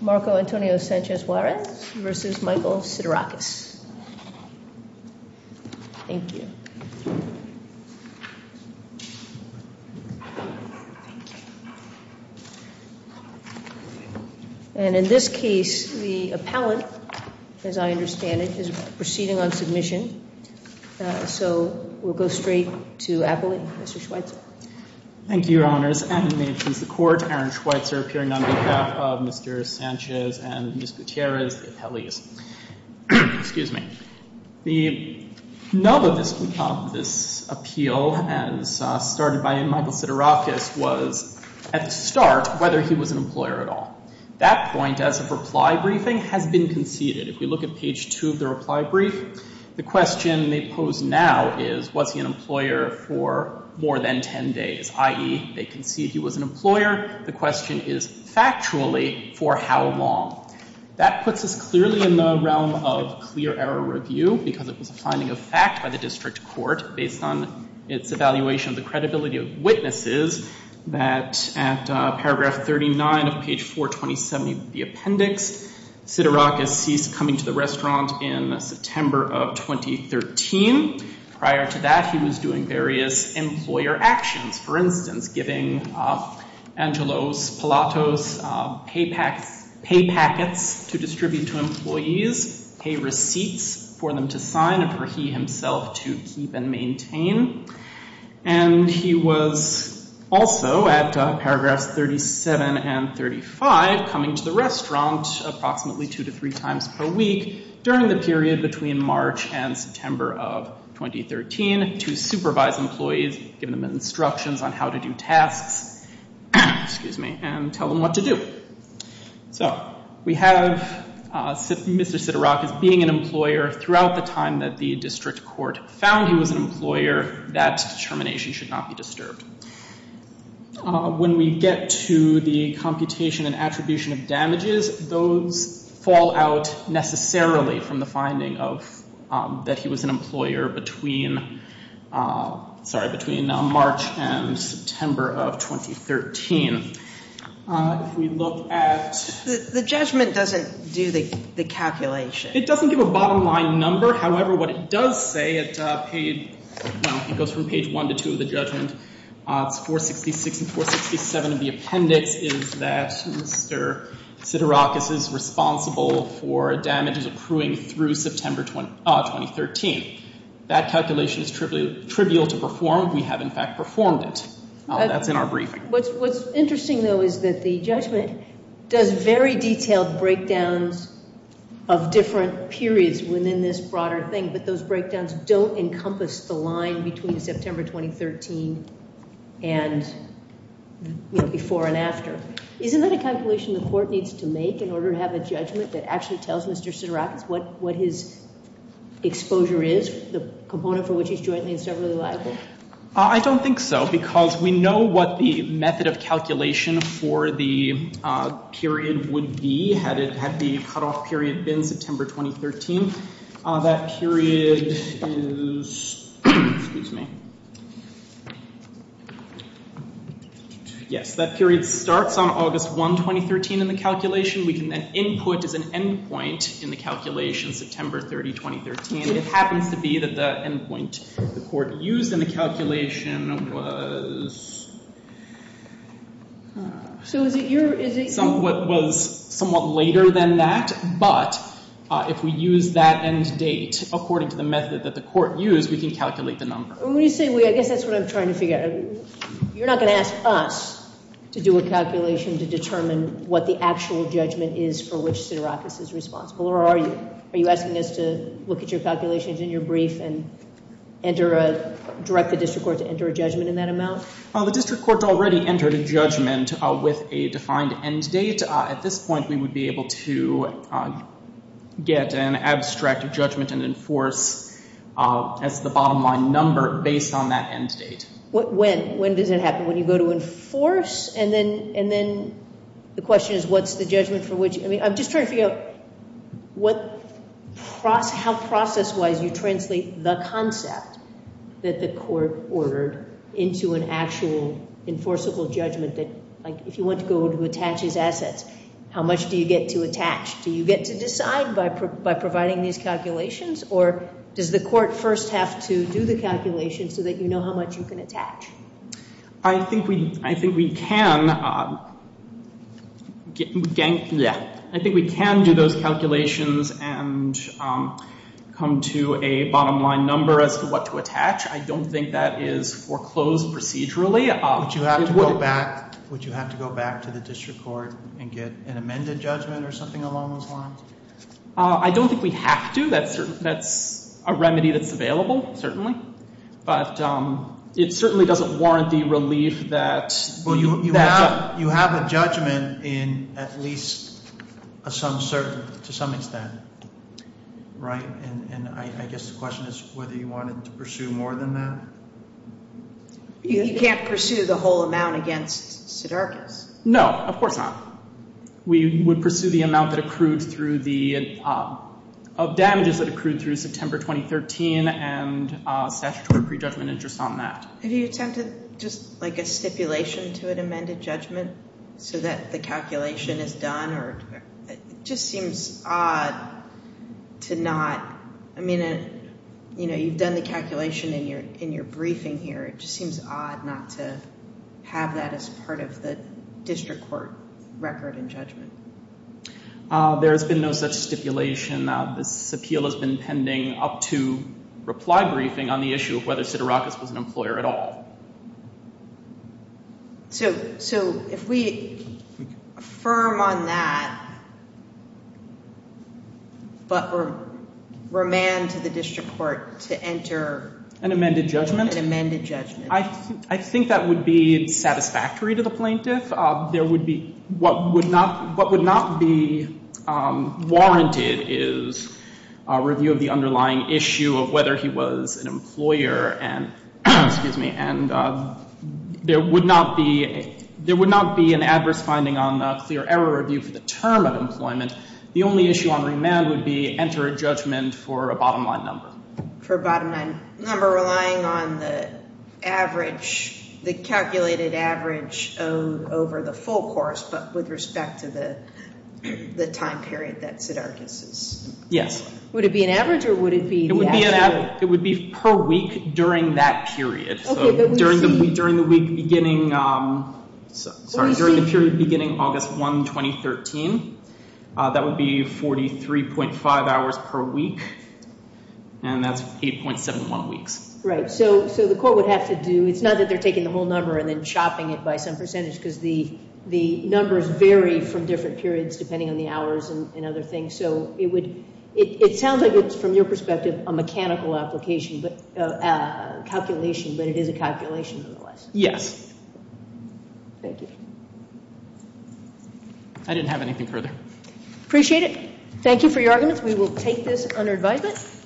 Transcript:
Marco Antonio Sanchez Juarez v. Michael Siderakis And in this case, the appellant, as I understand it, is proceeding on submission. So we'll go straight to Appling. Mr. Schweitzer. Thank you, Your Honors. And may it please the Court, Aaron Schweitzer appearing on behalf of Mr. Sanchez and Ms. Gutierrez, the appellees. The nub of this appeal, as started by Michael Siderakis, was, at the start, whether he was an employer at all. That point, as of reply briefing, has been conceded. If we look at page 2 of the reply brief, the question they pose now is, was he an employer for more than 10 days? I.e., they concede he was an employer. The question is, factually, for how long? That puts us clearly in the realm of clear error review, because it was a finding of fact by the district court, based on its evaluation of the credibility of witnesses, that at paragraph 39 of page 4, 2070 of the appendix, Siderakis ceased coming to the restaurant in September of 2013. Prior to that, he was doing various employer actions. For instance, giving Angelos, Palatos, pay packets to distribute to employees, pay receipts for them to sign, and for he himself to keep and maintain. And he was also, at paragraphs 37 and 35, coming to the restaurant approximately two to three times per week during the period between March and September of 2013 to supervise employees, giving them instructions on how to do tasks, and tell them what to do. So, we have Mr. Siderakis being an employer throughout the time that the district court found he was an employer. That determination should not be disturbed. When we get to the computation and attribution of damages, those fall out necessarily from the finding that he was an employer between March and September of 2013. If we look at... The judgment doesn't do the calculation. It doesn't give a bottom line number. However, what it does say, it goes from page 1 to 2 of the judgment, it's 466 and 467 of the appendix, is that Mr. Siderakis is responsible for damages accruing through September 2013. That calculation is trivial to perform. We have, in fact, performed it. That's in our briefing. What's interesting, though, is that the judgment does very detailed breakdowns of different periods within this broader thing, but those breakdowns don't encompass the line between September 2013 and before and after. Isn't that a calculation the court needs to make in order to have a judgment that actually tells Mr. Siderakis what his exposure is, the component for which he's jointly and severally liable? I don't think so, because we know what the method of calculation for the period would be, had the cutoff period been September 2013. That period is... Excuse me. Yes, that period starts on August 1, 2013, in the calculation. We can then input as an endpoint in the calculation September 30, 2013. It happens to be that the endpoint the court used in the calculation was somewhat later than that, but if we use that end date according to the method that the court used, we can calculate the number. I guess that's what I'm trying to figure out. You're not going to ask us to do a calculation to determine what the actual judgment is for which Siderakis is responsible, or are you? Are you asking us to look at your calculations in your brief and direct the district court to enter a judgment in that amount? The district court already entered a judgment with a defined end date. At this point, we would be able to get an abstract judgment and enforce as the bottom line number based on that end date. When does that happen? When you go to enforce? And then the question is what's the judgment for which? I'm just trying to figure out how process-wise you translate the concept that the court ordered into an actual enforceable judgment. If you want to go to attach his assets, how much do you get to attach? Do you get to decide by providing these calculations, or does the court first have to do the calculation so that you know how much you can attach? I think we can do those calculations and come to a bottom line number as to what to attach. I don't think that is foreclosed procedurally. Would you have to go back to the district court and get an amended judgment or something along those lines? I don't think we have to. That's a remedy that's available, certainly. But it certainly doesn't warrant the relief that— Well, you have a judgment in at least to some extent, right? And I guess the question is whether you wanted to pursue more than that. You can't pursue the whole amount against Siderkis. No, of course not. We would pursue the amount that accrued through the—of damages that accrued through September 2013, and statutory prejudgment is just on that. Have you attempted just like a stipulation to an amended judgment so that the calculation is done? It just seems odd to not—I mean, you know, you've done the calculation in your briefing here. It just seems odd not to have that as part of the district court record and judgment. There has been no such stipulation. This appeal has been pending up to reply briefing on the issue of whether Siderkis was an employer at all. So if we affirm on that but remand to the district court to enter— An amended judgment? An amended judgment. I think that would be satisfactory to the plaintiff. There would be—what would not be warranted is a review of the underlying issue of whether he was an employer. And there would not be an adverse finding on the clear error review for the term of employment. The only issue on remand would be enter a judgment for a bottom line number. For a bottom line number relying on the average, the calculated average over the full course, but with respect to the time period that Siderkis is— Yes. Would it be an average or would it be— It would be per week during that period. Okay, but we see— So during the week beginning—sorry, during the period beginning August 1, 2013. That would be 43.5 hours per week, and that's 8.71 weeks. Right. So the court would have to do—it's not that they're taking the whole number and then chopping it by some percentage because the numbers vary from different periods depending on the hours and other things. So it would—it sounds like it's, from your perspective, a mechanical application, a calculation, but it is a calculation nonetheless. Yes. Thank you. I didn't have anything further. Appreciate it. Thank you for your arguments. We will take this under advisement.